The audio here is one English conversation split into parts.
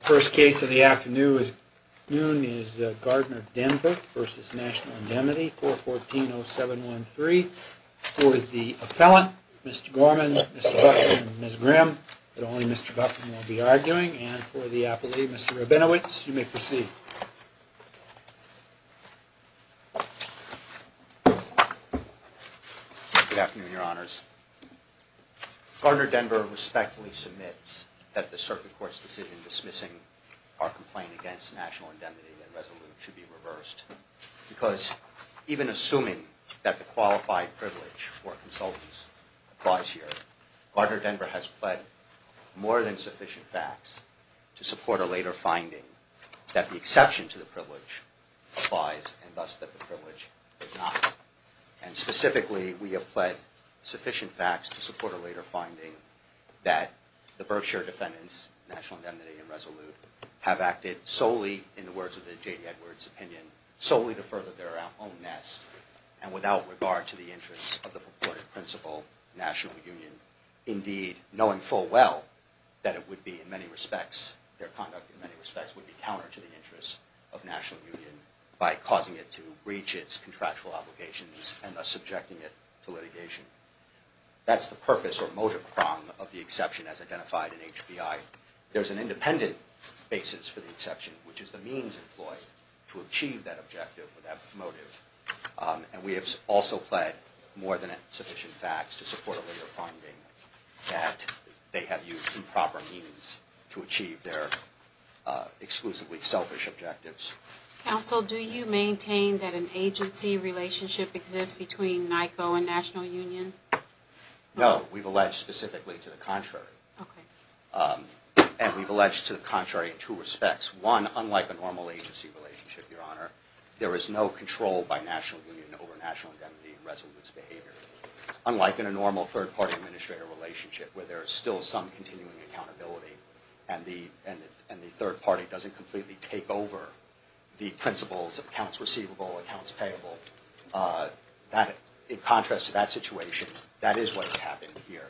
The first case of the afternoon is Gardner Denver v. National Indemnity, 414-0713. For the appellant, Mr. Gorman, Mr. Buffett, and Ms. Grimm, but only Mr. Buffett will be arguing, and for the appellee, Mr. Rabinowitz, you may proceed. Good afternoon, Your Honors. Gardner Denver respectfully submits that the Circuit Court's decision dismissing our complaint against National Indemnity and Resolute should be reversed. Because even assuming that the qualified privilege for consultants applies here, Gardner Denver has pled more than sufficient facts to support a later finding that the exception to the privilege applies and thus that the privilege did not. And specifically, we have pled sufficient facts to support a later finding that the Berkshire defendants, National Indemnity and Resolute, have acted solely in the words of the J.D. Edwards opinion, solely to further their own nest and without regard to the interests of the purported principal, National Union. Indeed, knowing full well that it would be in many respects, their conduct in many respects would be counter to the interests of National Union by causing it to breach its contractual obligations and thus subjecting it to litigation. That's the purpose or motive prong of the exception as identified in HBI. There's an independent basis for the exception, which is the means employed to achieve that objective or that motive. And we have also pled more than sufficient facts to support a later finding that they have used improper means to achieve their exclusively selfish objectives. Counsel, do you maintain that an agency relationship exists between NICO and National Union? No, we've alleged specifically to the contrary. Okay. And we've alleged to the contrary in two respects. One, unlike a normal agency relationship, Your Honor, there is no control by National Union over National Indemnity and Resolute's behavior. Unlike in a normal third-party administrator relationship where there is still some continuing accountability and the third party doesn't completely take over the principles of accounts receivable, accounts payable, in contrast to that situation, that is what has happened here.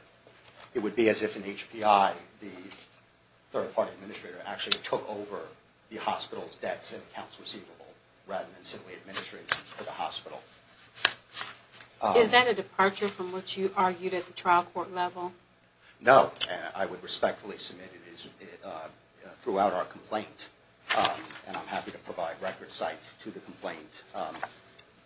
It would be as if in HBI the third-party administrator actually took over the hospital's debts and accounts receivable rather than simply administering them to the hospital. Is that a departure from what you argued at the trial court level? No, and I would respectfully submit it is throughout our complaint, and I'm happy to provide record sites to the complaint,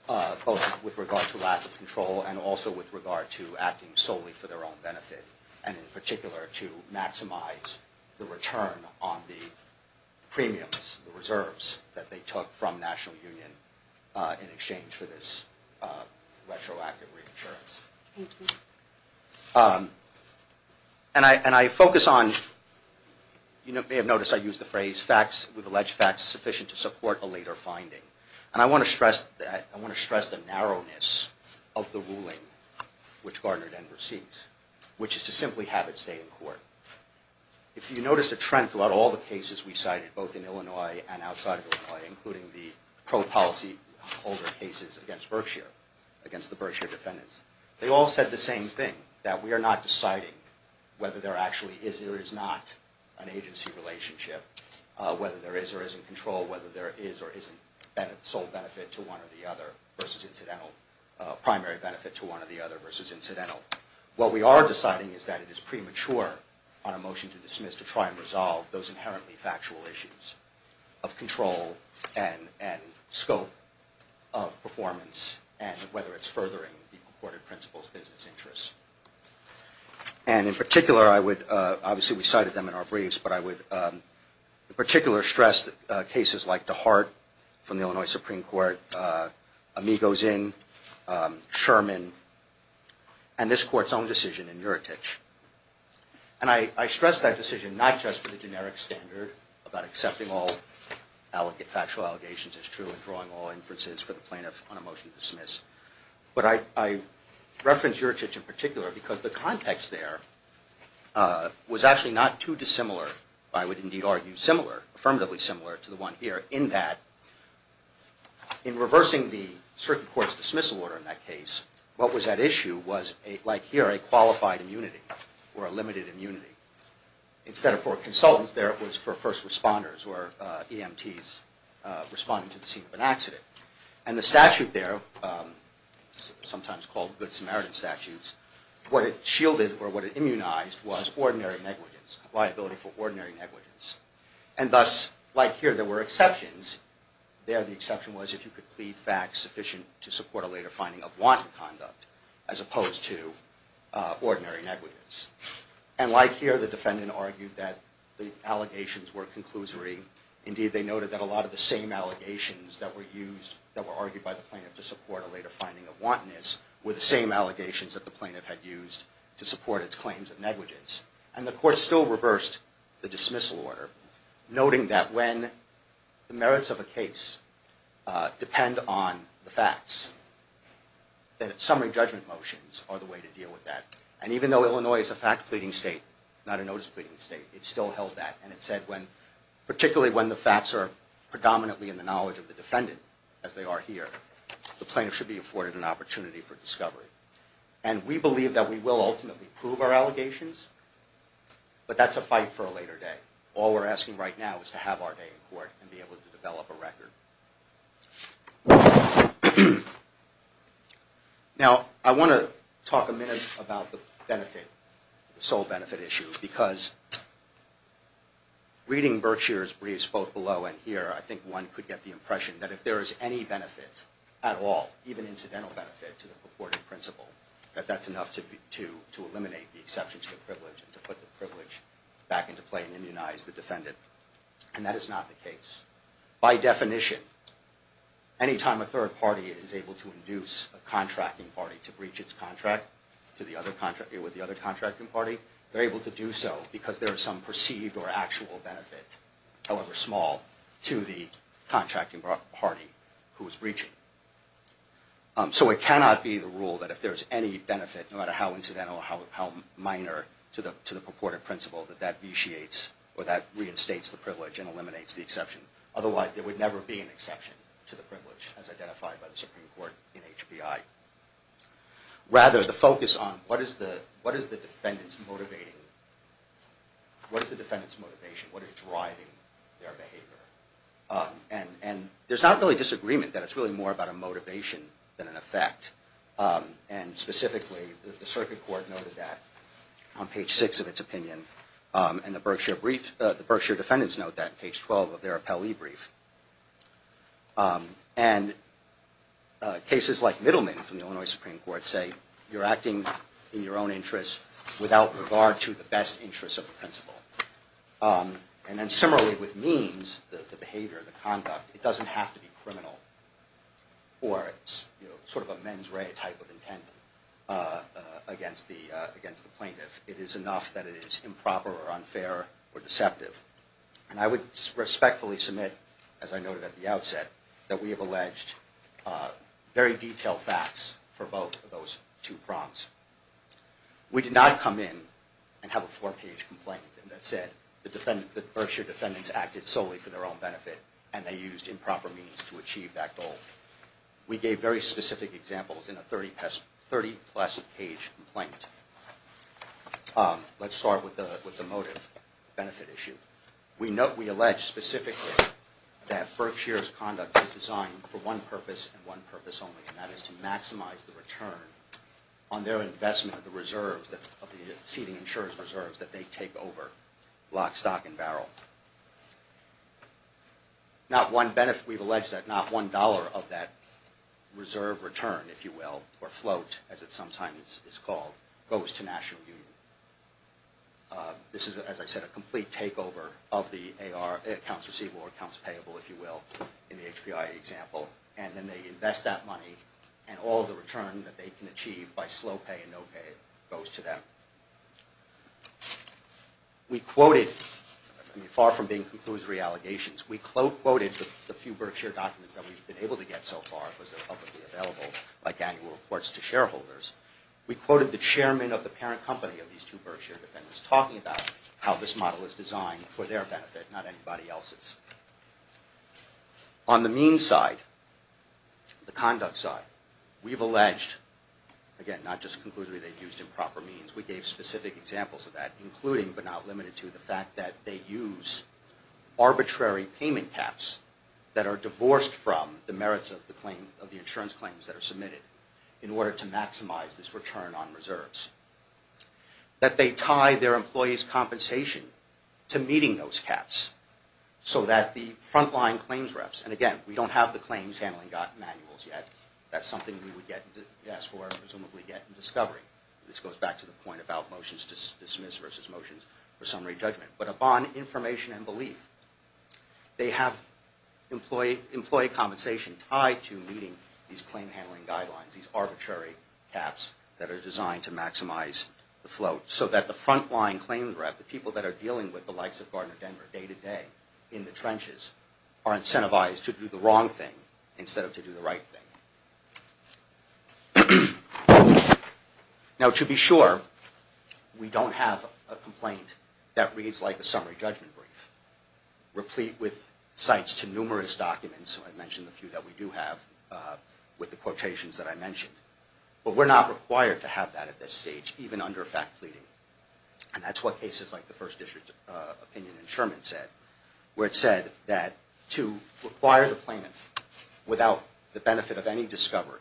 both with regard to lack of control and also with regard to acting solely for their own benefit, and in particular to maximize the return on the premiums, the reserves that they took from National Union in exchange for this retroactive reinsurance. Thank you. And I focus on, you may have noticed I used the phrase facts with alleged facts sufficient to support a later finding. And I want to stress the narrowness of the ruling which Gardner then proceeds, which is to simply have it stay in court. If you notice a trend throughout all the cases we cited, both in Illinois and outside of Illinois, including the pro-policy cases against Berkshire, against the Berkshire defendants, they all said the same thing, that we are not deciding whether there actually is or is not an agency relationship, whether there is or isn't control, whether there is or isn't sole benefit to one or the other versus incidental, primary benefit to one or the other versus incidental. What we are deciding is that it is premature on a motion to dismiss to try and resolve those inherently factual issues of control and scope of performance and whether it's furthering the court of principle's business interests. And in particular I would, obviously we cited them in our briefs, but I would in particular stress cases like DeHart from the Illinois Supreme Court, Amigos Inn, Sherman, and this court's own decision in Juratic. And I stress that decision not just for the generic standard about accepting all factual allegations as true and drawing all inferences for the plaintiff on a motion to dismiss, but I reference Juratic in particular because the context there was actually not too dissimilar, I would indeed argue similar, affirmatively similar to the one here in that in reversing the circuit court's dismissal order in that case, what was at issue was, like here, a qualified immunity or a limited immunity. Instead of for consultants there it was for first responders or EMTs responding to the scene of an accident. And the statute there, sometimes called Good Samaritan statutes, what it shielded or what it immunized was ordinary negligence, liability for ordinary negligence. And thus, like here, there were exceptions. There the exception was if you could plead facts sufficient to support a later finding of wanton conduct as opposed to ordinary negligence. And like here, the defendant argued that the allegations were conclusory. Indeed, they noted that a lot of the same allegations that were used, that were argued by the plaintiff to support a later finding of wantonness, were the same allegations that the plaintiff had used to support its claims of negligence. And the court still reversed the dismissal order, noting that when the merits of a case depend on the facts, that summary judgment motions are the way to deal with that. And even though Illinois is a fact pleading state, not a notice pleading state, it still held that. And it said when, particularly when the facts are predominantly in the knowledge of the defendant, as they are here, the plaintiff should be afforded an opportunity for discovery. And we believe that we will ultimately prove our allegations, but that's a fight for a later day. All we're asking right now is to have our day in court and be able to develop a record. Now, I want to talk a minute about the benefit, the sole benefit issue, because reading Berkshire's briefs both below and here, I think one could get the impression that if there is any benefit at all, even incidental benefit to the purported principle, that that's enough to eliminate the exception to the privilege and to put the privilege back into play and immunize the defendant. And that is not the case. By definition, anytime a third party is able to induce a contracting party to breach its contract with the other contracting party, they're able to do so because there is some perceived or actual benefit, however small, to the contracting party who is breaching. So it cannot be the rule that if there is any benefit, no matter how incidental or how minor to the purported principle, that that vitiates or that reinstates the privilege and eliminates the exception. Otherwise, there would never be an exception to the privilege as identified by the Supreme Court in HBI. Rather, the focus on what is the defendant's motivation, what is driving their behavior? And there's not really disagreement that it's really more about a motivation than an effect. And specifically, the circuit court noted that on page 6 of its opinion. And the Berkshire defendants note that on page 12 of their appellee brief. And cases like Middleman from the Illinois Supreme Court say you're acting in your own interest without regard to the best interests of the principle. And then similarly with means, the behavior, the conduct, it doesn't have to be criminal or sort of a mens rea type of intent against the plaintiff. It is enough that it is improper or unfair or deceptive. And I would respectfully submit, as I noted at the outset, that we have alleged very detailed facts for both of those two prompts. We did not come in and have a four page complaint that said the Berkshire defendants acted solely for their own benefit. And they used improper means to achieve that goal. We gave very specific examples in a 30 plus page complaint. Let's start with the motive benefit issue. We note, we allege specifically that Berkshire's conduct was designed for one purpose and one purpose only. And that is to maximize the return on their investment of the reserves, of the exceeding insurance reserves that they take over lock, stock, and barrel. Not one benefit, we've alleged that not one dollar of that reserve return, if you will, or float as it sometimes is called, goes to National Union. This is, as I said, a complete takeover of the accounts receivable or accounts payable, if you will, in the HPI example. And then they invest that money and all the return that they can achieve by slow pay and no pay goes to them. We quoted, far from being conclusory allegations, we quoted the few Berkshire documents that we've been able to get so far, because they're publicly available, like annual reports to shareholders. We quoted the chairman of the parent company of these two Berkshire defendants talking about how this model is designed for their benefit, not anybody else's. On the means side, the conduct side, we've alleged, again, not just conclusively, they've used improper means. We gave specific examples of that, including but not limited to the fact that they use arbitrary payment caps that are divorced from the merits of the insurance claims that are submitted in order to maximize this return on reserves. That they tie their employees' compensation to meeting those caps so that the frontline claims reps, and again, we don't have the claims handling manuals yet. That's something we would ask for and presumably get in discovery. This goes back to the point about motions dismissed versus motions for summary judgment. But upon information and belief, they have employee compensation tied to meeting these claim handling guidelines, these arbitrary caps that are designed to maximize the float so that the frontline claims rep, the people that are dealing with the likes of Gardner Denver day to day in the trenches, are incentivized to do the wrong thing instead of to do the right thing. Now, to be sure, we don't have a complaint that reads like a summary judgment brief, replete with cites to numerous documents. I mentioned a few that we do have with the quotations that I mentioned. But we're not required to have that at this stage, even under fact pleading. And that's what cases like the First District opinion in Sherman said, where it said that to require the plaintiff, without the benefit of any discovery,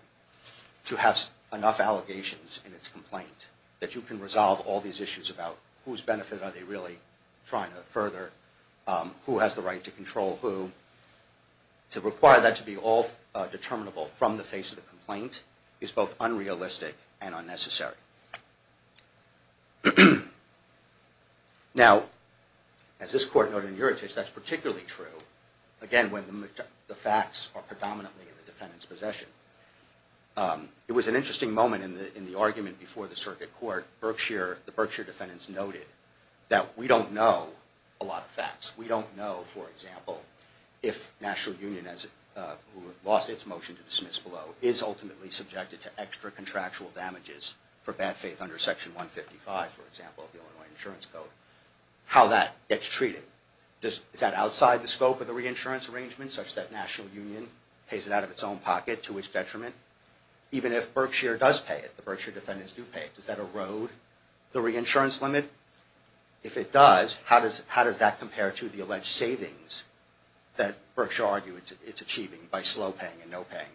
to have enough allegations in its complaint that you can resolve all these issues about whose benefit are they really trying to further, who has the right to control who. To require that to be all determinable from the face of the complaint is both unrealistic and unnecessary. Now, as this court noted in Uritage, that's particularly true, again, when the facts are predominantly in the defendant's possession. It was an interesting moment in the argument before the circuit court. The Berkshire defendants noted that we don't know a lot of facts. We don't know, for example, if National Union, who lost its motion to dismiss below, is ultimately subjected to extra contractual damages for bad faith under Section 155, for example, of the Illinois Insurance Code, how that gets treated. Is that outside the scope of the reinsurance arrangement, such that National Union pays it out of its own pocket to its detriment? Even if Berkshire does pay it, the Berkshire defendants do pay it, does that erode the reinsurance limit? If it does, how does that compare to the alleged savings that Berkshire argued it's achieving by slow paying and no paying,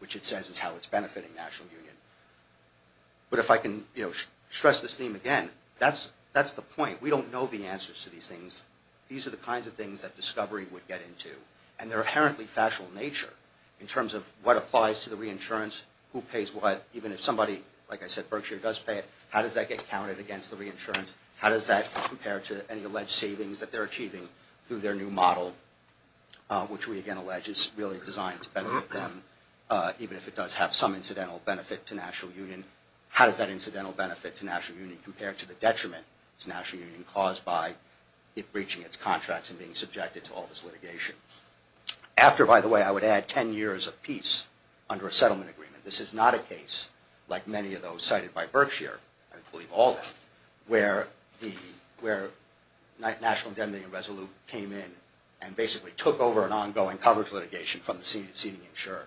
which it says is how it's benefiting National Union? But if I can stress this theme again, that's the point. We don't know the answers to these things. These are the kinds of things that discovery would get into. And they're inherently factual in nature, in terms of what applies to the reinsurance, who pays what, even if somebody, like I said, Berkshire does pay it, how does that get counted against the reinsurance? How does that compare to any alleged savings that they're achieving through their new model, which we again allege is really designed to benefit them, even if it does have some incidental benefit to National Union? How does that incidental benefit to National Union compare to the detriment to National Union caused by it breaching its contracts and being subjected to all this litigation? After, by the way, I would add 10 years of peace under a settlement agreement. This is not a case like many of those cited by Berkshire, I believe all of them, where the National Indemnity Resolution came in and basically took over an ongoing coverage litigation from the senior insurer.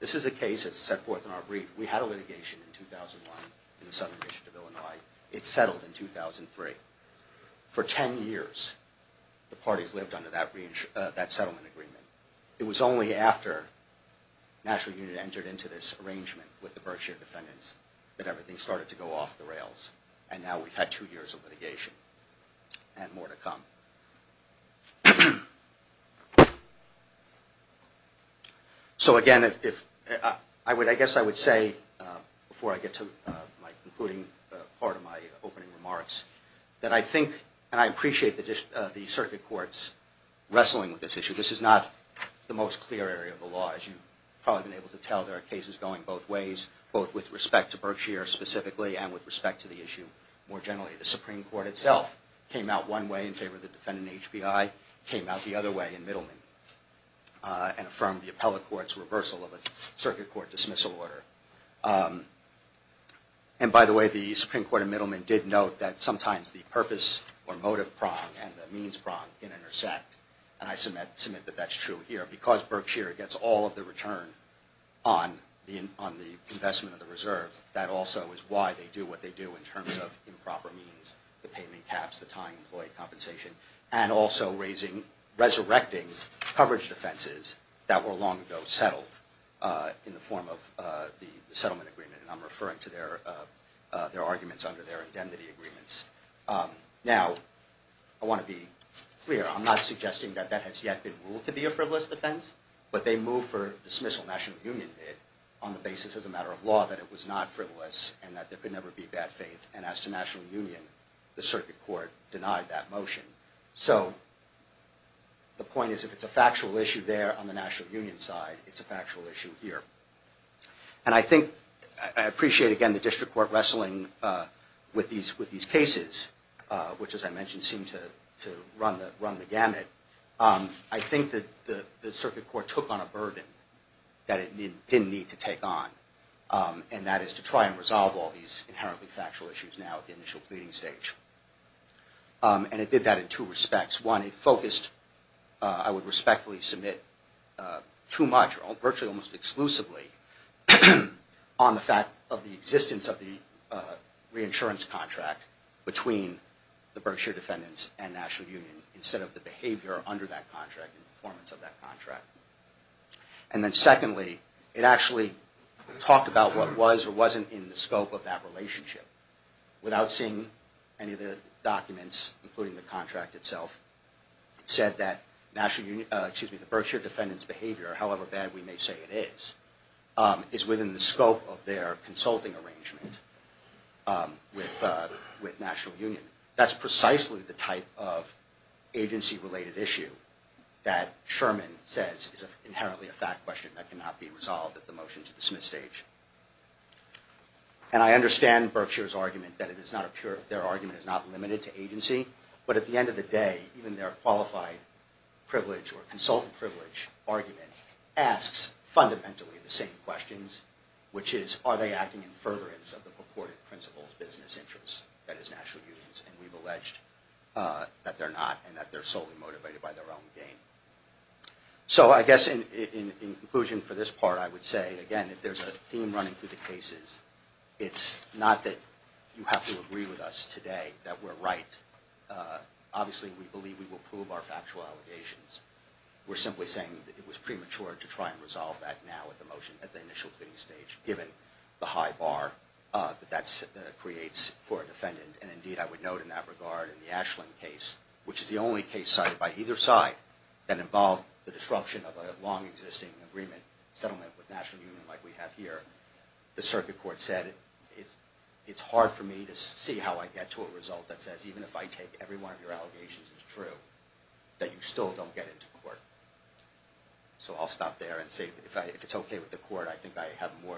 This is a case that's set forth in our brief. We had a litigation in 2001 in the Southern District of Illinois. It settled in 2003. For 10 years, the parties lived under that settlement agreement. It was only after National Union entered into this arrangement with the Berkshire defendants that everything started to go off the rails. And now we've had two years of litigation and more to come. So again, I guess I would say, before I get to my concluding part of my opening remarks, that I think and I appreciate the circuit courts wrestling with this issue. This is not the most clear area of the law, as you've probably been able to tell. There are cases going both ways, both with respect to Berkshire specifically and with respect to the issue more generally. The Supreme Court itself came out one way in favor of the defendant in HBI, came out the other way in Middleman, and affirmed the appellate court's reversal of a circuit court dismissal order. And by the way, the Supreme Court in Middleman did note that sometimes the purpose or motive prong and the means prong can intersect. And I submit that that's true here. Because Berkshire gets all of the return on the investment of the reserves, that also is why they do what they do in terms of improper means, the payment caps, the time employee compensation, and also resurrecting coverage defenses that were long ago settled in the form of the settlement agreement. And I'm referring to their arguments under their indemnity agreements. Now, I want to be clear. I'm not suggesting that that has yet been ruled to be a frivolous defense, but they move for dismissal, National Union did, on the basis as a matter of law that it was not frivolous and that there could never be bad faith. And as to National Union, the circuit court denied that motion. So the point is if it's a factual issue there on the National Union side, it's a factual issue here. And I think I appreciate, again, the district court wrestling with these cases, which, as I mentioned, seem to run the gamut. I think that the circuit court took on a burden that it didn't need to take on, and that is to try and resolve all these inherently factual issues now at the initial pleading stage. And it did that in two respects. One, it focused, I would respectfully submit, too much, virtually almost exclusively, on the fact of the existence of the reinsurance contract between the Berkshire defendants and National Union, instead of the behavior under that contract and performance of that contract. And then secondly, it actually talked about what was or wasn't in the scope of that relationship, without seeing any of the documents, including the contract itself, said that the Berkshire defendants' behavior, however bad we may say it is, is within the scope of their consulting arrangement with National Union. That's precisely the type of agency-related issue that Sherman says is inherently a fact question that cannot be resolved at the motion-to-dismiss stage. And I understand Berkshire's argument that their argument is not limited to agency, but at the end of the day, even their qualified privilege or consultant privilege argument asks fundamentally the same questions, which is, are they acting in fervorance of the purported principles of business interests that is National Union's? And we've alleged that they're not, and that they're solely motivated by their own gain. So I guess in conclusion for this part, I would say, again, if there's a theme running through the cases, it's not that you have to agree with us today that we're right. Obviously, we believe we will prove our factual allegations. We're simply saying that it was premature to try and resolve that now at the motion, at the initial stage, given the high bar that that creates for a defendant. And indeed, I would note in that regard, in the Ashland case, which is the only case cited by either side that involved the disruption of a long-existing agreement settlement with National Union like we have here, the circuit court said it's hard for me to see how I get to a result that says even if I take every one of your allegations as true, that you still don't get into court. So I'll stop there and say if it's okay with the court, I think I have more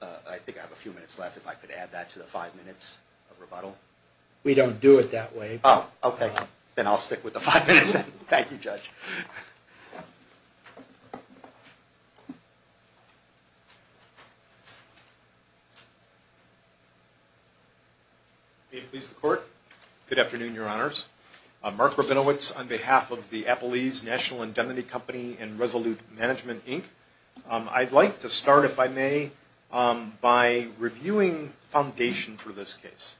than, I think I have a few minutes left if I could add that to the five minutes of rebuttal. We don't do it that way. Oh, okay. Then I'll stick with the five minutes. Thank you, Judge. May it please the court. Good afternoon, Your Honors. Mark Rabinowitz on behalf of the Applebee's National Indemnity Company and Resolute Management Inc. I'd like to start, if I may, by reviewing foundation for this case.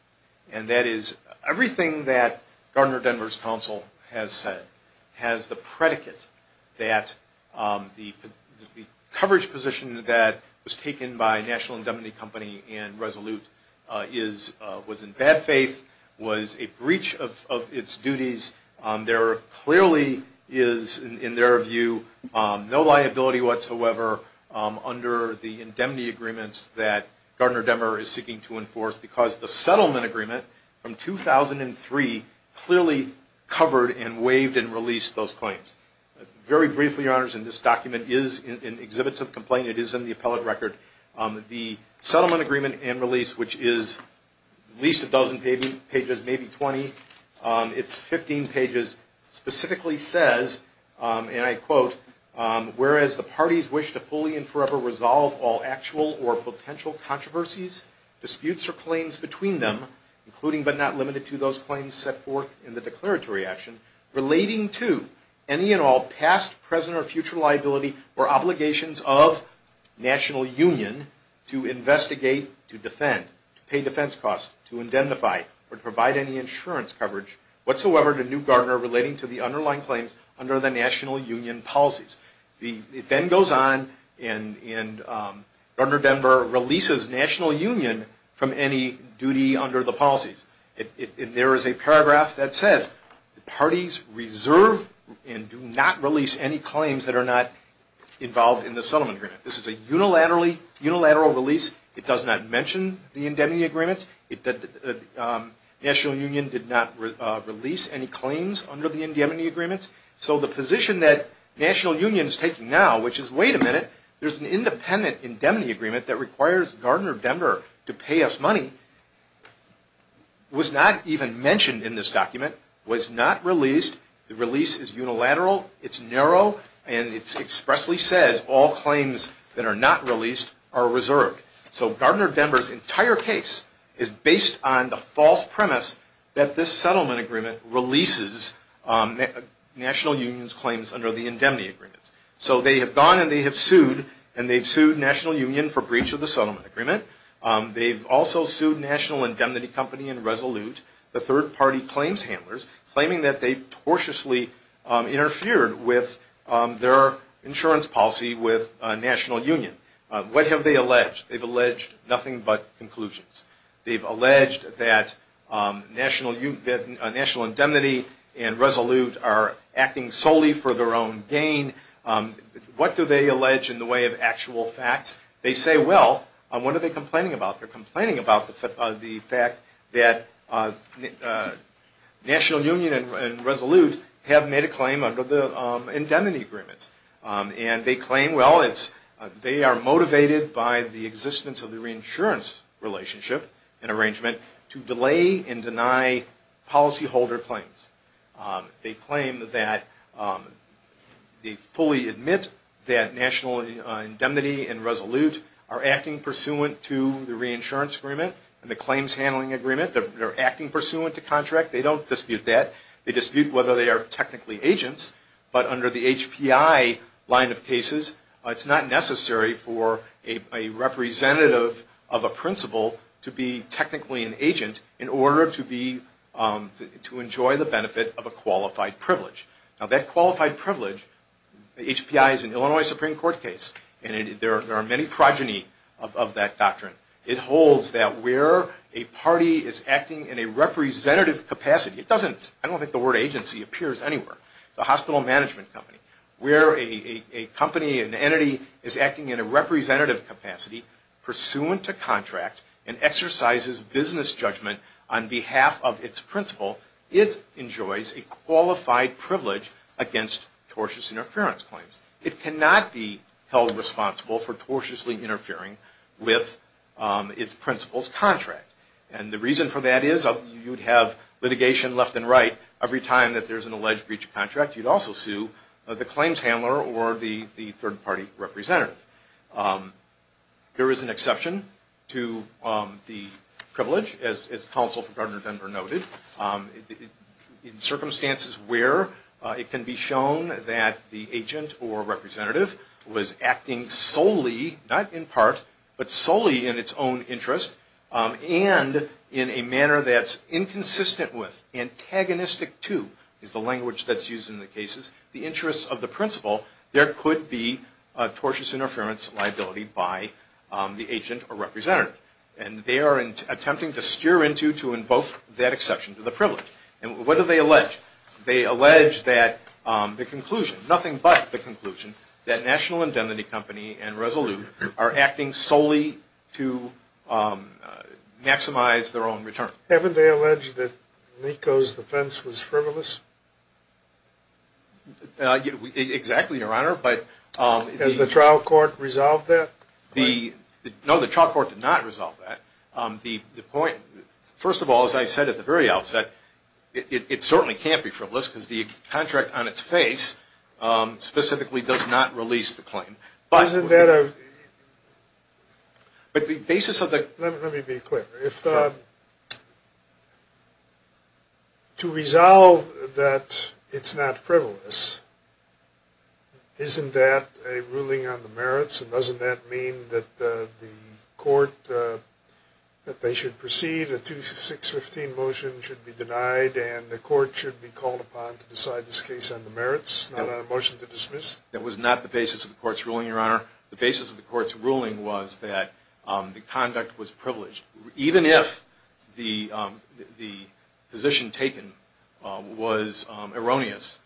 And that is everything that Gardner-Denver's counsel has said has the predicate that the coverage position that was taken by National Indemnity Company and Resolute was in bad faith, was a breach of its duties. There clearly is, in their view, no liability whatsoever under the indemnity agreements that Gardner-Denver is seeking to enforce because the settlement agreement from 2003 clearly covered and waived and released those claims. Very briefly, Your Honors, in this document is an exhibit to the complaint. It is in the appellate record. The settlement agreement and release, which is at least a dozen pages, maybe 20. It's 15 pages. Specifically says, and I quote, Whereas the parties wish to fully and forever resolve all actual or potential controversies, disputes, or claims between them, including but not limited to those claims set forth in the declaratory action, relating to any and all past, present, or future liability or obligations of National Union to investigate, to defend, to pay defense costs, to indemnify, or provide any insurance coverage whatsoever to New Gardner relating to the underlying claims under the National Union policies. It then goes on and Gardner-Denver releases National Union from any duty under the policies. There is a paragraph that says, Parties reserve and do not release any claims that are not involved in the settlement agreement. This is a unilateral release. It does not mention the indemnity agreements. National Union did not release any claims under the indemnity agreements. So the position that National Union is taking now, which is, wait a minute, there's an independent indemnity agreement that requires Gardner-Denver to pay us money, was not even mentioned in this document, was not released. The release is unilateral, it's narrow, and it expressly says all claims that are not released are reserved. So Gardner-Denver's entire case is based on the false premise that this settlement agreement releases National Union's claims under the indemnity agreements. So they have gone and they have sued, and they've sued National Union for breach of the settlement agreement. They've also sued National Indemnity Company and Resolute, the third-party claims handlers, claiming that they've tortiously interfered with their insurance policy with National Union. What have they alleged? They've alleged nothing but conclusions. They've alleged that National Indemnity and Resolute are acting solely for their own gain. What do they allege in the way of actual facts? They say, well, what are they complaining about? They're complaining about the fact that National Union and Resolute have made a claim under the indemnity agreements. And they claim, well, they are motivated by the existence of the reinsurance relationship and arrangement to delay and deny policyholder claims. They claim that they fully admit that National Indemnity and Resolute are acting pursuant to the reinsurance agreement and the claims handling agreement. They're acting pursuant to contract. They don't dispute that. They dispute whether they are technically agents. But under the HPI line of cases, it's not necessary for a representative of a principal to be technically an agent in order to enjoy the benefit of a qualified privilege. Now, that qualified privilege, the HPI is an Illinois Supreme Court case, and there are many progeny of that doctrine. It holds that where a party is acting in a representative capacity, I don't think the word agency appears anywhere, the hospital management company, where a company, an entity is acting in a representative capacity, pursuant to contract, and exercises business judgment on behalf of its principal, it enjoys a qualified privilege against tortious interference claims. It cannot be held responsible for tortiously interfering with its principal's contract. And the reason for that is you'd have litigation left and right. Every time that there's an alleged breach of contract, you'd also sue the claims handler or the third party representative. There is an exception to the privilege, as counsel for Governor Denver noted. In circumstances where it can be shown that the agent or representative was acting solely, not in part, but solely in its own interest, and in a manner that's inconsistent with antagonistic to, is the language that's used in the cases, the interests of the principal, there could be tortious interference liability by the agent or representative. And they are attempting to steer into to invoke that exception to the privilege. And what do they allege? They allege that the conclusion, nothing but the conclusion, that National Indemnity Company and Resolute are acting solely to maximize their own return. Haven't they alleged that NICO's defense was frivolous? Exactly, Your Honor. Has the trial court resolved that? No, the trial court did not resolve that. The point, first of all, as I said at the very outset, it certainly can't be frivolous because the contract on its face specifically does not release the claim. But the basis of the Let me be clear. To resolve that it's not frivolous, isn't that a ruling on the merits? And doesn't that mean that the court, that they should proceed, a 2615 motion should be denied and the court should be called upon to decide this case on the merits, not on a motion to dismiss? That was not the basis of the court's ruling, Your Honor. The basis of the court's ruling was that the conduct was privileged. Even if the position taken was erroneous,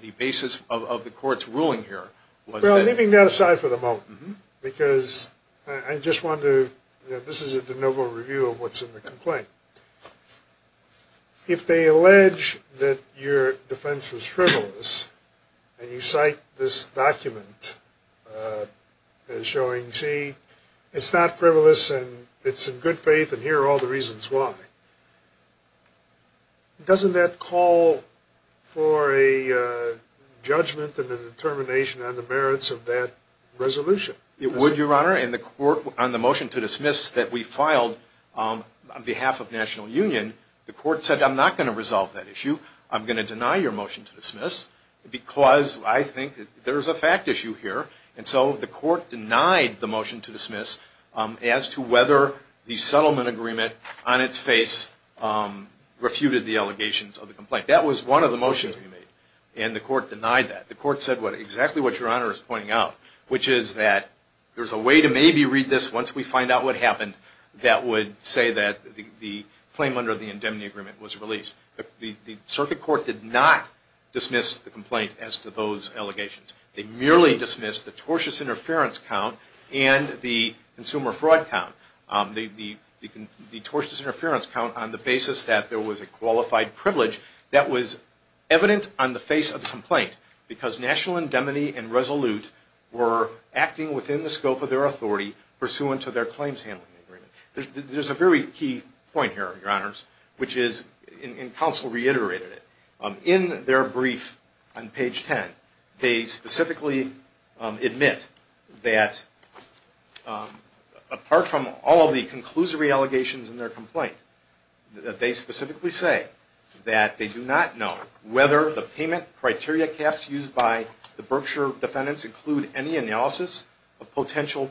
the basis of the court's ruling here was that Well, leaving that aside for the moment, because I just want to, this is a de novo review of what's in the complaint. If they allege that your defense was frivolous and you cite this document as showing, see, it's not frivolous and it's in good faith and here are all the reasons why, doesn't that call for a judgment and a determination on the merits of that resolution? It would, Your Honor. And the court, on the motion to dismiss that we filed on behalf of National Union, the court said I'm not going to resolve that issue. I'm going to deny your motion to dismiss because I think there's a fact issue here. And so the court denied the motion to dismiss as to whether the settlement agreement on its face refuted the allegations of the complaint. That was one of the motions we made and the court denied that. The court said exactly what Your Honor is pointing out, which is that there's a way to maybe read this once we find out what happened that would say that the claim under the indemnity agreement was released. The circuit court did not dismiss the complaint as to those allegations. They merely dismissed the tortious interference count and the consumer fraud count. The tortious interference count on the basis that there was a qualified privilege that was evident on the face of the complaint because National Indemnity and Resolute were acting within the scope of their authority pursuant to their claims handling agreement. There's a very key point here, Your Honors, which is, and counsel reiterated it. In their brief on page 10, they specifically admit that apart from all of the conclusory allegations in their complaint, that they specifically say that they do not know whether the payment criteria caps used by the Berkshire defendants include any analysis of potential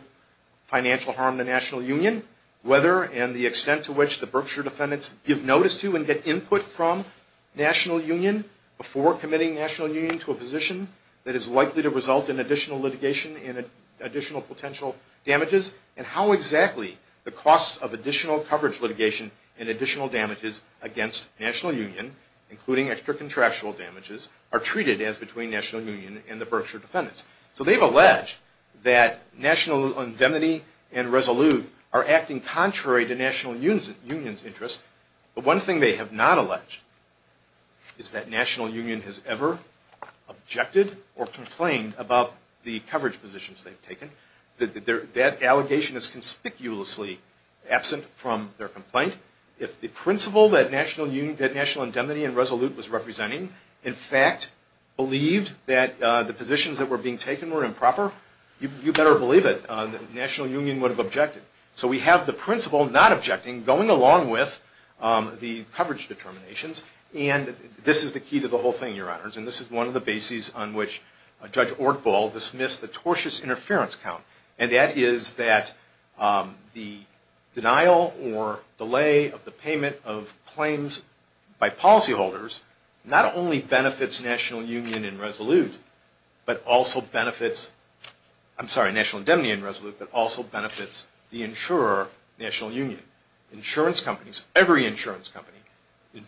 financial harm to the National Union, whether and the extent to which the Berkshire defendants give notice to and get input from National Union before committing National Union to a position that is likely to result in additional litigation and additional potential damages, and how exactly the costs of additional coverage litigation and additional damages against National Union, including extra contractual damages, are treated as between National Union and the Berkshire defendants. So they've alleged that National Indemnity and Resolute are acting contrary to National Union's interest, but one thing they have not alleged is that National Union has ever objected or complained about the coverage positions they've taken. That allegation is conspicuously absent from their complaint. If the principal that National Indemnity and Resolute was representing, in fact, believed that the positions that were being taken were improper, you better believe it. National Union would have objected. So we have the principal not objecting, going along with the coverage determinations, and this is the key to the whole thing, Your Honors, and this is one of the bases on which Judge Ortbal dismissed the tortious interference count, and that is that the denial or delay of the payment of claims by policyholders not only benefits National Union and Resolute, but also benefits, I'm sorry, National Indemnity and Resolute, but also benefits the insurer, National Union. Insurance companies, every insurance company,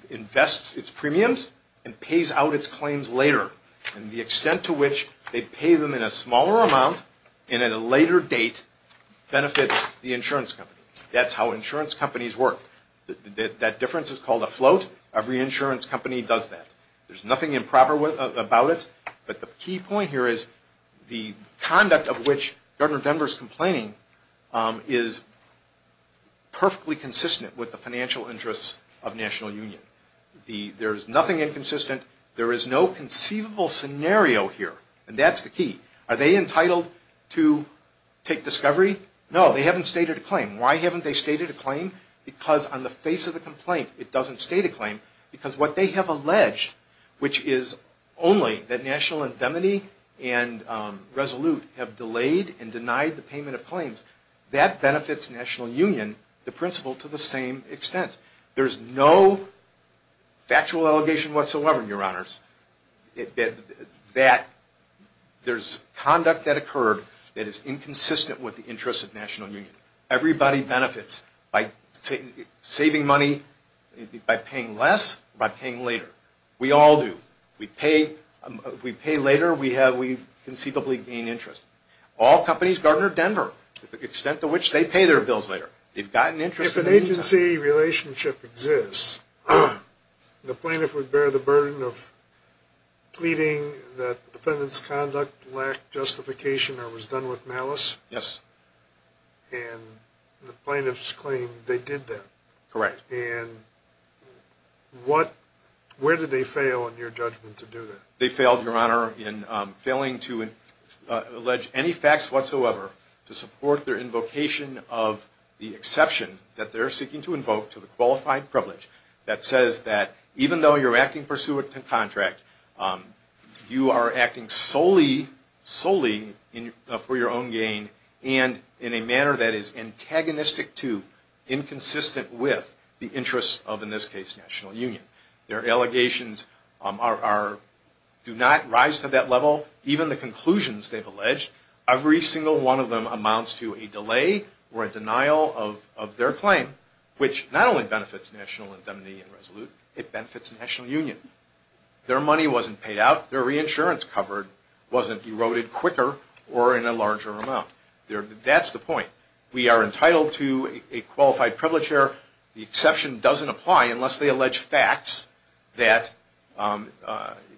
invests its premiums and pays out its claims later, and the extent to which they pay them in a smaller amount and at a later date benefits the insurance company. That's how insurance companies work. That difference is called a float. Every insurance company does that. There's nothing improper about it, but the key point here is the conduct of which Governor Denver is complaining is perfectly consistent with the financial interests of National Union. There is nothing inconsistent. There is no conceivable scenario here, and that's the key. Are they entitled to take discovery? No, they haven't stated a claim. Why haven't they stated a claim? Because on the face of the complaint, it doesn't state a claim because what they have alleged, which is only that National Indemnity and Resolute have delayed and denied the payment of claims, that benefits National Union, the principal, to the same extent. There's no factual allegation whatsoever, Your Honors, that there's conduct that occurred that is inconsistent with the interests of National Union. Everybody benefits by saving money by paying less or by paying later. We all do. We pay later. We conceivably gain interest. All companies, Governor Denver, the extent to which they pay their bills later, they've gotten interest in the meantime. If an agency relationship exists, the plaintiff would bear the burden of pleading that the defendant's conduct lacked justification or was done with malice? Yes. And the plaintiff's claim, they did that. Correct. And where did they fail in your judgment to do that? They failed, Your Honor, in failing to allege any facts whatsoever to support their invocation of the exception that they're seeking to invoke to the qualified privilege that says that even though you're acting pursuant to contract, you are acting solely for your own gain and in a manner that is antagonistic to, inconsistent with, the interests of, in this case, National Union. Their allegations do not rise to that level. Even the conclusions they've alleged, every single one of them amounts to a delay or a denial of their claim, which not only benefits National Indemnity and Resolute, it benefits National Union. Their money wasn't paid out. Their reinsurance covered wasn't eroded quicker or in a larger amount. That's the point. We are entitled to a qualified privilege here. The exception doesn't apply unless they allege facts that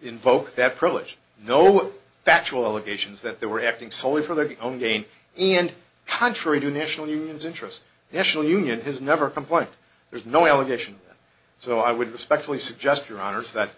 invoke that privilege. No factual allegations that they were acting solely for their own gain and contrary to National Union's interests. National Union has never complained. There's no allegation of that. So I would respectfully suggest, Your Honors, that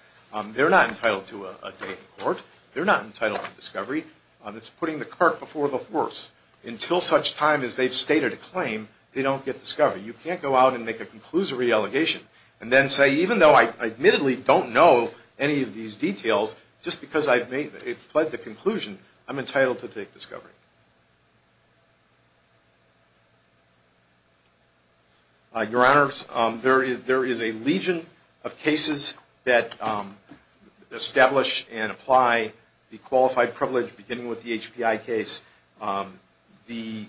they're not entitled to a day in court. They're not entitled to discovery. It's putting the cart before the horse. Until such time as they've stated a claim, they don't get discovery. You can't go out and make a conclusory allegation and then say, Even though I admittedly don't know any of these details, just because it's pled the conclusion, I'm entitled to take discovery. Your Honors, there is a legion of cases that establish and apply the qualified privilege beginning with the HPI case. The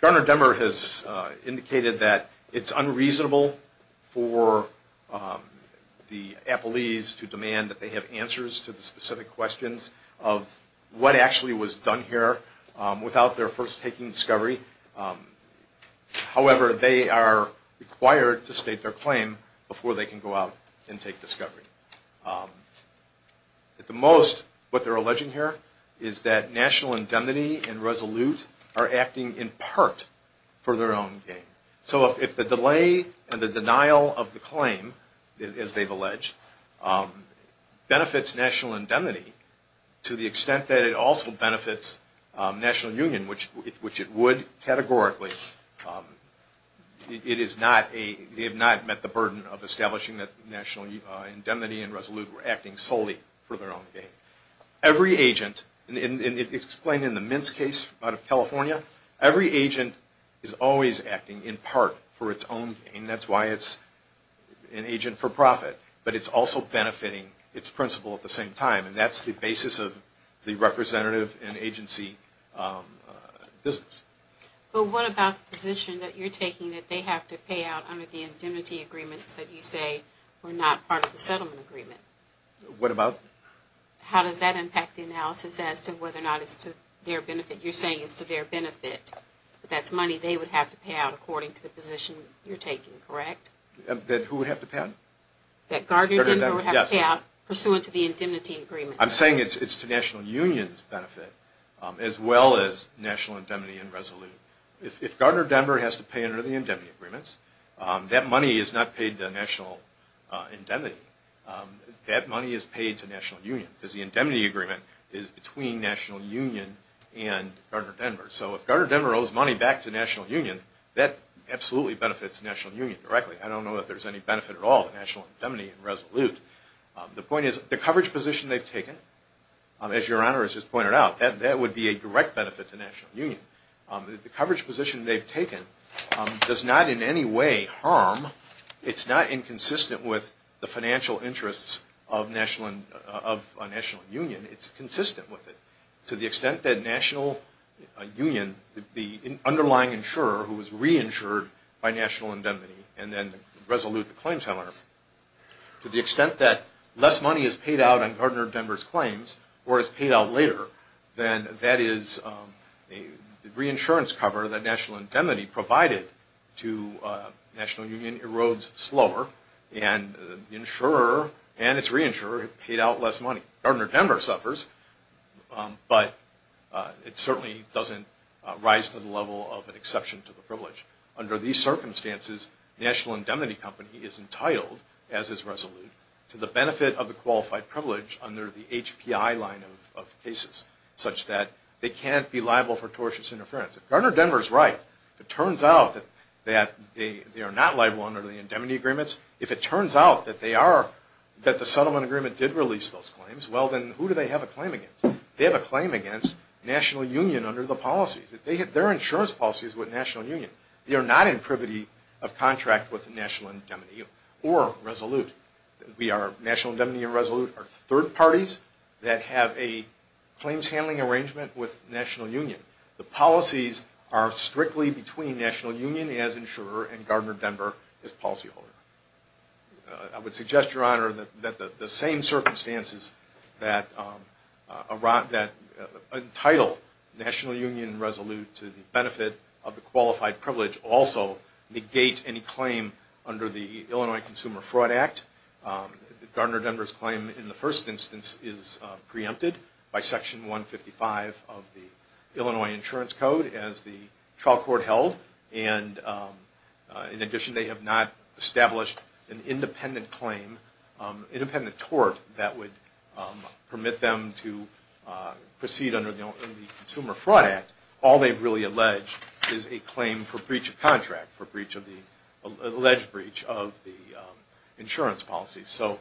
Garner-Demmer has indicated that it's unreasonable for the appellees to demand that they have answers to the specific questions of what actually was done here without their first taking discovery. However, they are required to state their claim before they can go out and take discovery. At the most, what they're alleging here is that National Indemnity and Resolute are acting in part for their own gain. So if the delay and the denial of the claim, as they've alleged, benefits National Indemnity to the extent that it also benefits National Union, which it would categorically, they have not met the burden of establishing that National Indemnity and Resolute were acting solely for their own gain. Every agent, and it's explained in the Mintz case out of California, every agent is always acting in part for its own gain. That's why it's an agent for profit, but it's also benefiting its principal at the same time. And that's the basis of the representative and agency business. But what about the position that you're taking that they have to pay out under the indemnity agreements that you say were not part of the settlement agreement? What about? How does that impact the analysis as to whether or not it's to their benefit? You're saying it's to their benefit, but that's money they would have to pay out according to the position you're taking, correct? That who would have to pay out? That Gardner-Denver would have to pay out pursuant to the indemnity agreement. I'm saying it's to National Union's benefit as well as National Indemnity and Resolute. If Gardner-Denver has to pay under the indemnity agreements, that money is not paid to National Indemnity. That money is paid to National Union because the indemnity agreement is between National Union and Gardner-Denver. So if Gardner-Denver owes money back to National Union, that absolutely benefits National Union directly. I don't know if there's any benefit at all to National Indemnity and Resolute. The point is, the coverage position they've taken, as Your Honor has just pointed out, that would be a direct benefit to National Union. The coverage position they've taken does not in any way harm. It's not inconsistent with the financial interests of National Union. It's consistent with it. To the extent that National Union, the underlying insurer who was reinsured by National Indemnity and then Resolute, the claim teller, to the extent that less money is paid out on Gardner-Denver's claims or is paid out later, then that is a reinsurance cover that National Indemnity provided to National Union erodes slower, and the insurer and its reinsurer paid out less money. Gardner-Denver suffers, but it certainly doesn't rise to the level of an exception to the privilege. Under these circumstances, National Indemnity Company is entitled, as is Resolute, to the benefit of the qualified privilege under the HPI line of cases, such that they can't be liable for tortious interference. If Gardner-Denver's right, if it turns out that they are not liable under the indemnity agreements, if it turns out that they are, that the settlement agreement did release those claims, well then who do they have a claim against? They have a claim against National Union under the policies. Their insurance policy is with National Union. They are not in privity of contract with National Indemnity or Resolute. National Indemnity and Resolute are third parties that have a claims handling arrangement with National Union. The policies are strictly between National Union as insurer and Gardner-Denver as policyholder. I would suggest, Your Honor, that the same circumstances that entitle National Union and Resolute to the benefit of the qualified privilege also negate any claim under the Illinois Consumer Fraud Act. Gardner-Denver's claim in the first instance is preempted by Section 155 of the Illinois Insurance Code as the trial court held. In addition, they have not established an independent claim, independent tort, that would permit them to proceed under the Consumer Fraud Act. All they've really alleged is a claim for breach of contract, for alleged breach of the insurance policy. So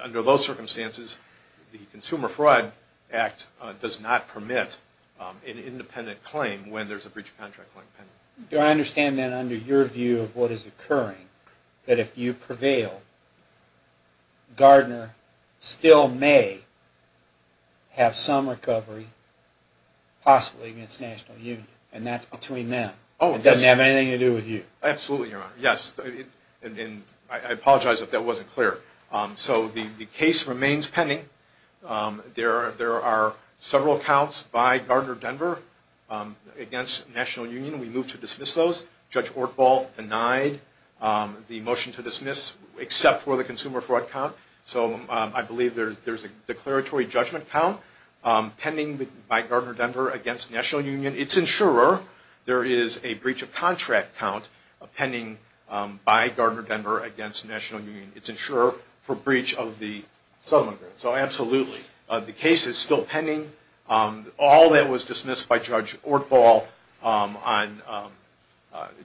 under those circumstances, the Consumer Fraud Act does not permit an independent claim when there's a breach of contract claim. Do I understand then, under your view of what is occurring, that if you prevail, Gardner still may have some recovery, possibly against National Union, and that's between them? It doesn't have anything to do with you? Absolutely, Your Honor. Yes. I apologize if that wasn't clear. So the case remains pending. There are several counts by Gardner-Denver against National Union. We move to dismiss those. Judge Ortbal denied the motion to dismiss, except for the Consumer Fraud Count. So I believe there's a declaratory judgment count pending by Gardner-Denver against National Union. It's insurer. There is a breach of contract count pending by Gardner-Denver against National Union. It's insurer for breach of the settlement agreement. So absolutely, the case is still pending. All that was dismissed by Judge Ortbal on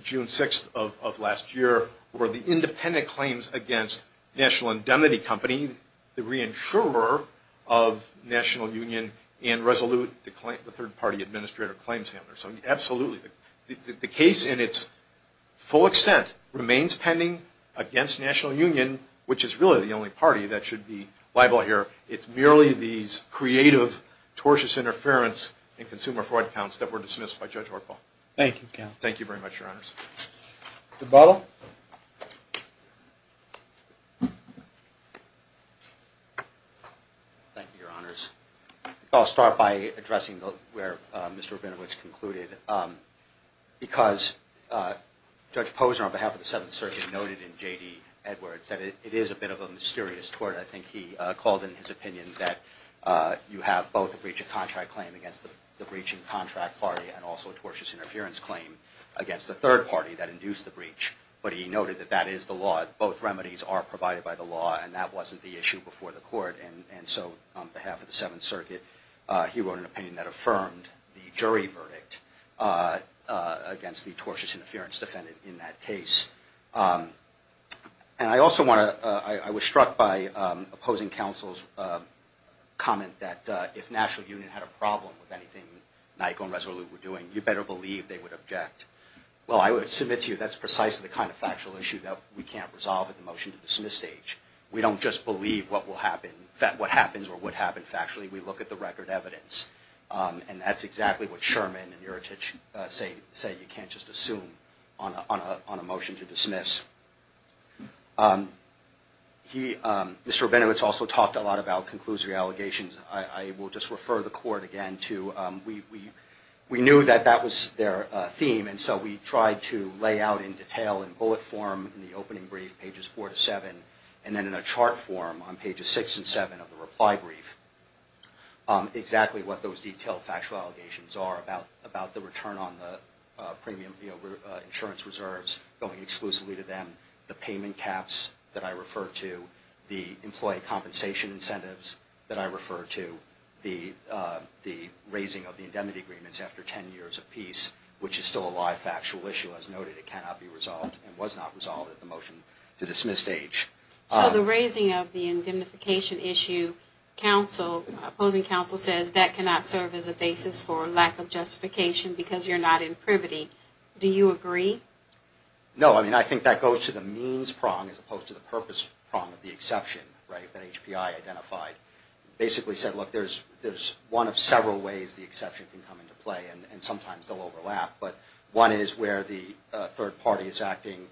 June 6th of last year were the independent claims against National Indemnity Company, the reinsurer of National Union, and Resolute, the third-party administrator of Claims Handler. So absolutely, the case in its full extent remains pending against National Union, which is really the only party that should be liable here. It's merely these creative, tortious interference in Consumer Fraud Counts that were dismissed by Judge Ortbal. Thank you, counsel. Thank you very much, Your Honors. Goodball? Thank you, Your Honors. I'll start by addressing where Mr. Rabinowitz concluded. Because Judge Posner, on behalf of the Seventh Circuit, noted in J.D. Edwards that it is a bit of a mysterious tort. I think he called in his opinion that you have both a breach of contract claim against the breaching contract party and also a tortious interference claim against the third party that induced the breach. But he noted that that is the law. Both remedies are provided by the law, and that wasn't the issue before the court. And so on behalf of the Seventh Circuit, he wrote an opinion that affirmed the jury verdict against the tortious interference defendant in that case. And I also want to – I was struck by opposing counsel's comment that if National Union had a problem with anything Nyko and Resolute were doing, you better believe they would object. Well, I would submit to you that's precisely the kind of factual issue that we can't resolve at the motion-to-dismiss stage. We don't just believe what will happen – what happens or would happen factually. We look at the record evidence. And that's exactly what Sherman and Iritich say you can't just assume on a motion to dismiss. He – Mr. Rabinowitz also talked a lot about conclusive allegations. I will just refer the court again to – we knew that that was their theme, and so we tried to lay out in detail in bullet form in the opening brief, pages 4 to 7, and then in a chart form on pages 6 and 7 of the reply brief, exactly what those detailed factual allegations are about the return on the premium insurance reserves going exclusively to them, the payment caps that I refer to, the employee compensation incentives that I refer to, the raising of the indemnity agreements after 10 years of peace, which is still a live factual issue as noted. It cannot be resolved and was not resolved at the motion-to-dismiss stage. So the raising of the indemnification issue, opposing counsel says, that cannot serve as a basis for lack of justification because you're not in privity. Do you agree? No, I mean, I think that goes to the means prong as opposed to the purpose prong of the exception, right, that HPI identified. Basically said, look, there's one of several ways the exception can come into play, and sometimes they'll overlap, but one is where the third party is acting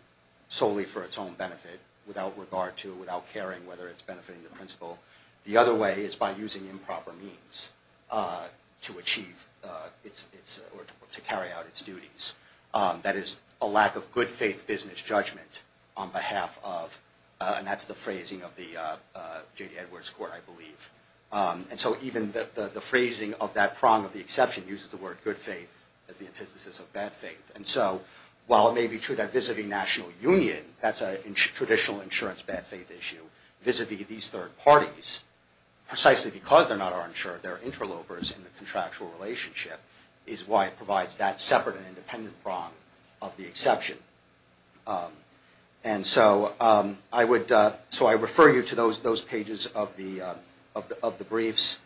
solely for its own benefit, without regard to, without caring whether it's benefiting the principal. The other way is by using improper means to achieve its – or to carry out its duties. That is a lack of good faith business judgment on behalf of, and that's the phrasing of the J.D. Edwards Court, I believe. And so even the phrasing of that prong of the exception uses the word good faith as the antithesis of bad faith. And so while it may be true that vis-a-vis national union, that's a traditional insurance bad faith issue, vis-a-vis these third parties, precisely because they're not our insurer, they're interlopers in the contractual relationship, is why it provides that separate and independent prong of the exception. And so I would – so I refer you to those pages of the briefs.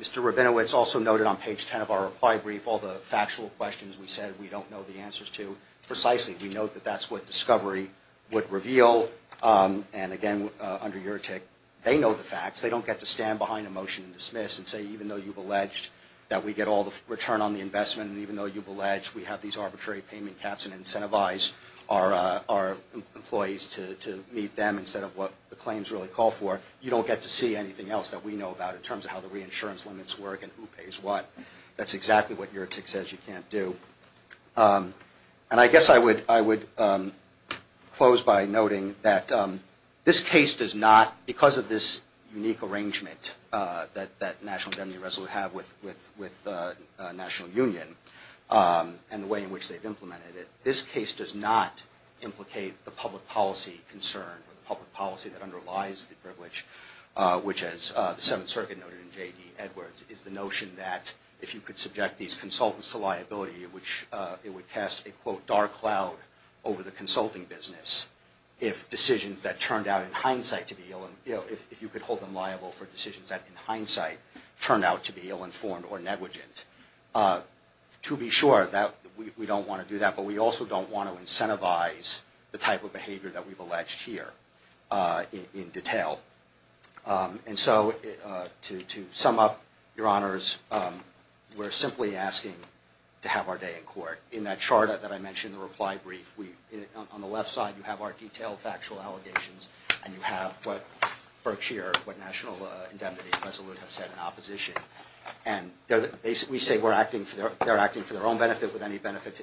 Mr. Rabinowitz also noted on page 10 of our reply brief all the factual questions we said we don't know the answers to. Precisely, we note that that's what discovery would reveal. And again, under URTIC, they know the facts. They don't get to stand behind a motion and dismiss and say even though you've alleged that we get all the return on the investment and even though you've alleged we have these arbitrary payment caps and incentivize our employees to meet them instead of what the claims really call for, you don't get to see anything else that we know about in terms of how the reinsurance limits work and who pays what. That's exactly what URTIC says you can't do. And I guess I would close by noting that this case does not, because of this unique arrangement that National General Resolute have with the National Union and the way in which they've implemented it, this case does not implicate the public policy concern or the public policy that underlies the privilege, which as the Seventh Circuit noted in J.D. Edwards, is the notion that if you could subject these consultants to liability, which it would cast a quote dark cloud over the consulting business, if decisions that turned out in hindsight to be, if you could hold them liable for decisions that in hindsight turned out to be ill-informed or negligent. To be sure, we don't want to do that, but we also don't want to incentivize the type of behavior that we've alleged here in detail. And so to sum up, Your Honors, we're simply asking to have our day in court. In that charter that I mentioned, the reply brief, on the left side you have our detailed factual allegations and you have what Berkshire, what National Indemnity and Resolute have said in opposition. And we say they're acting for their own benefit with any benefit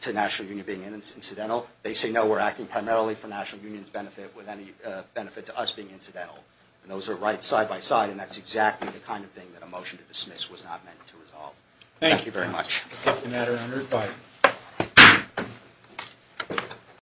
to National Union being incidental. They say no, we're acting primarily for National Union's benefit with any benefit to us being incidental. And those are right side by side, and that's exactly the kind of thing that a motion to dismiss was not meant to resolve. Thank you very much. Thank you, Your Honor. Goodbye.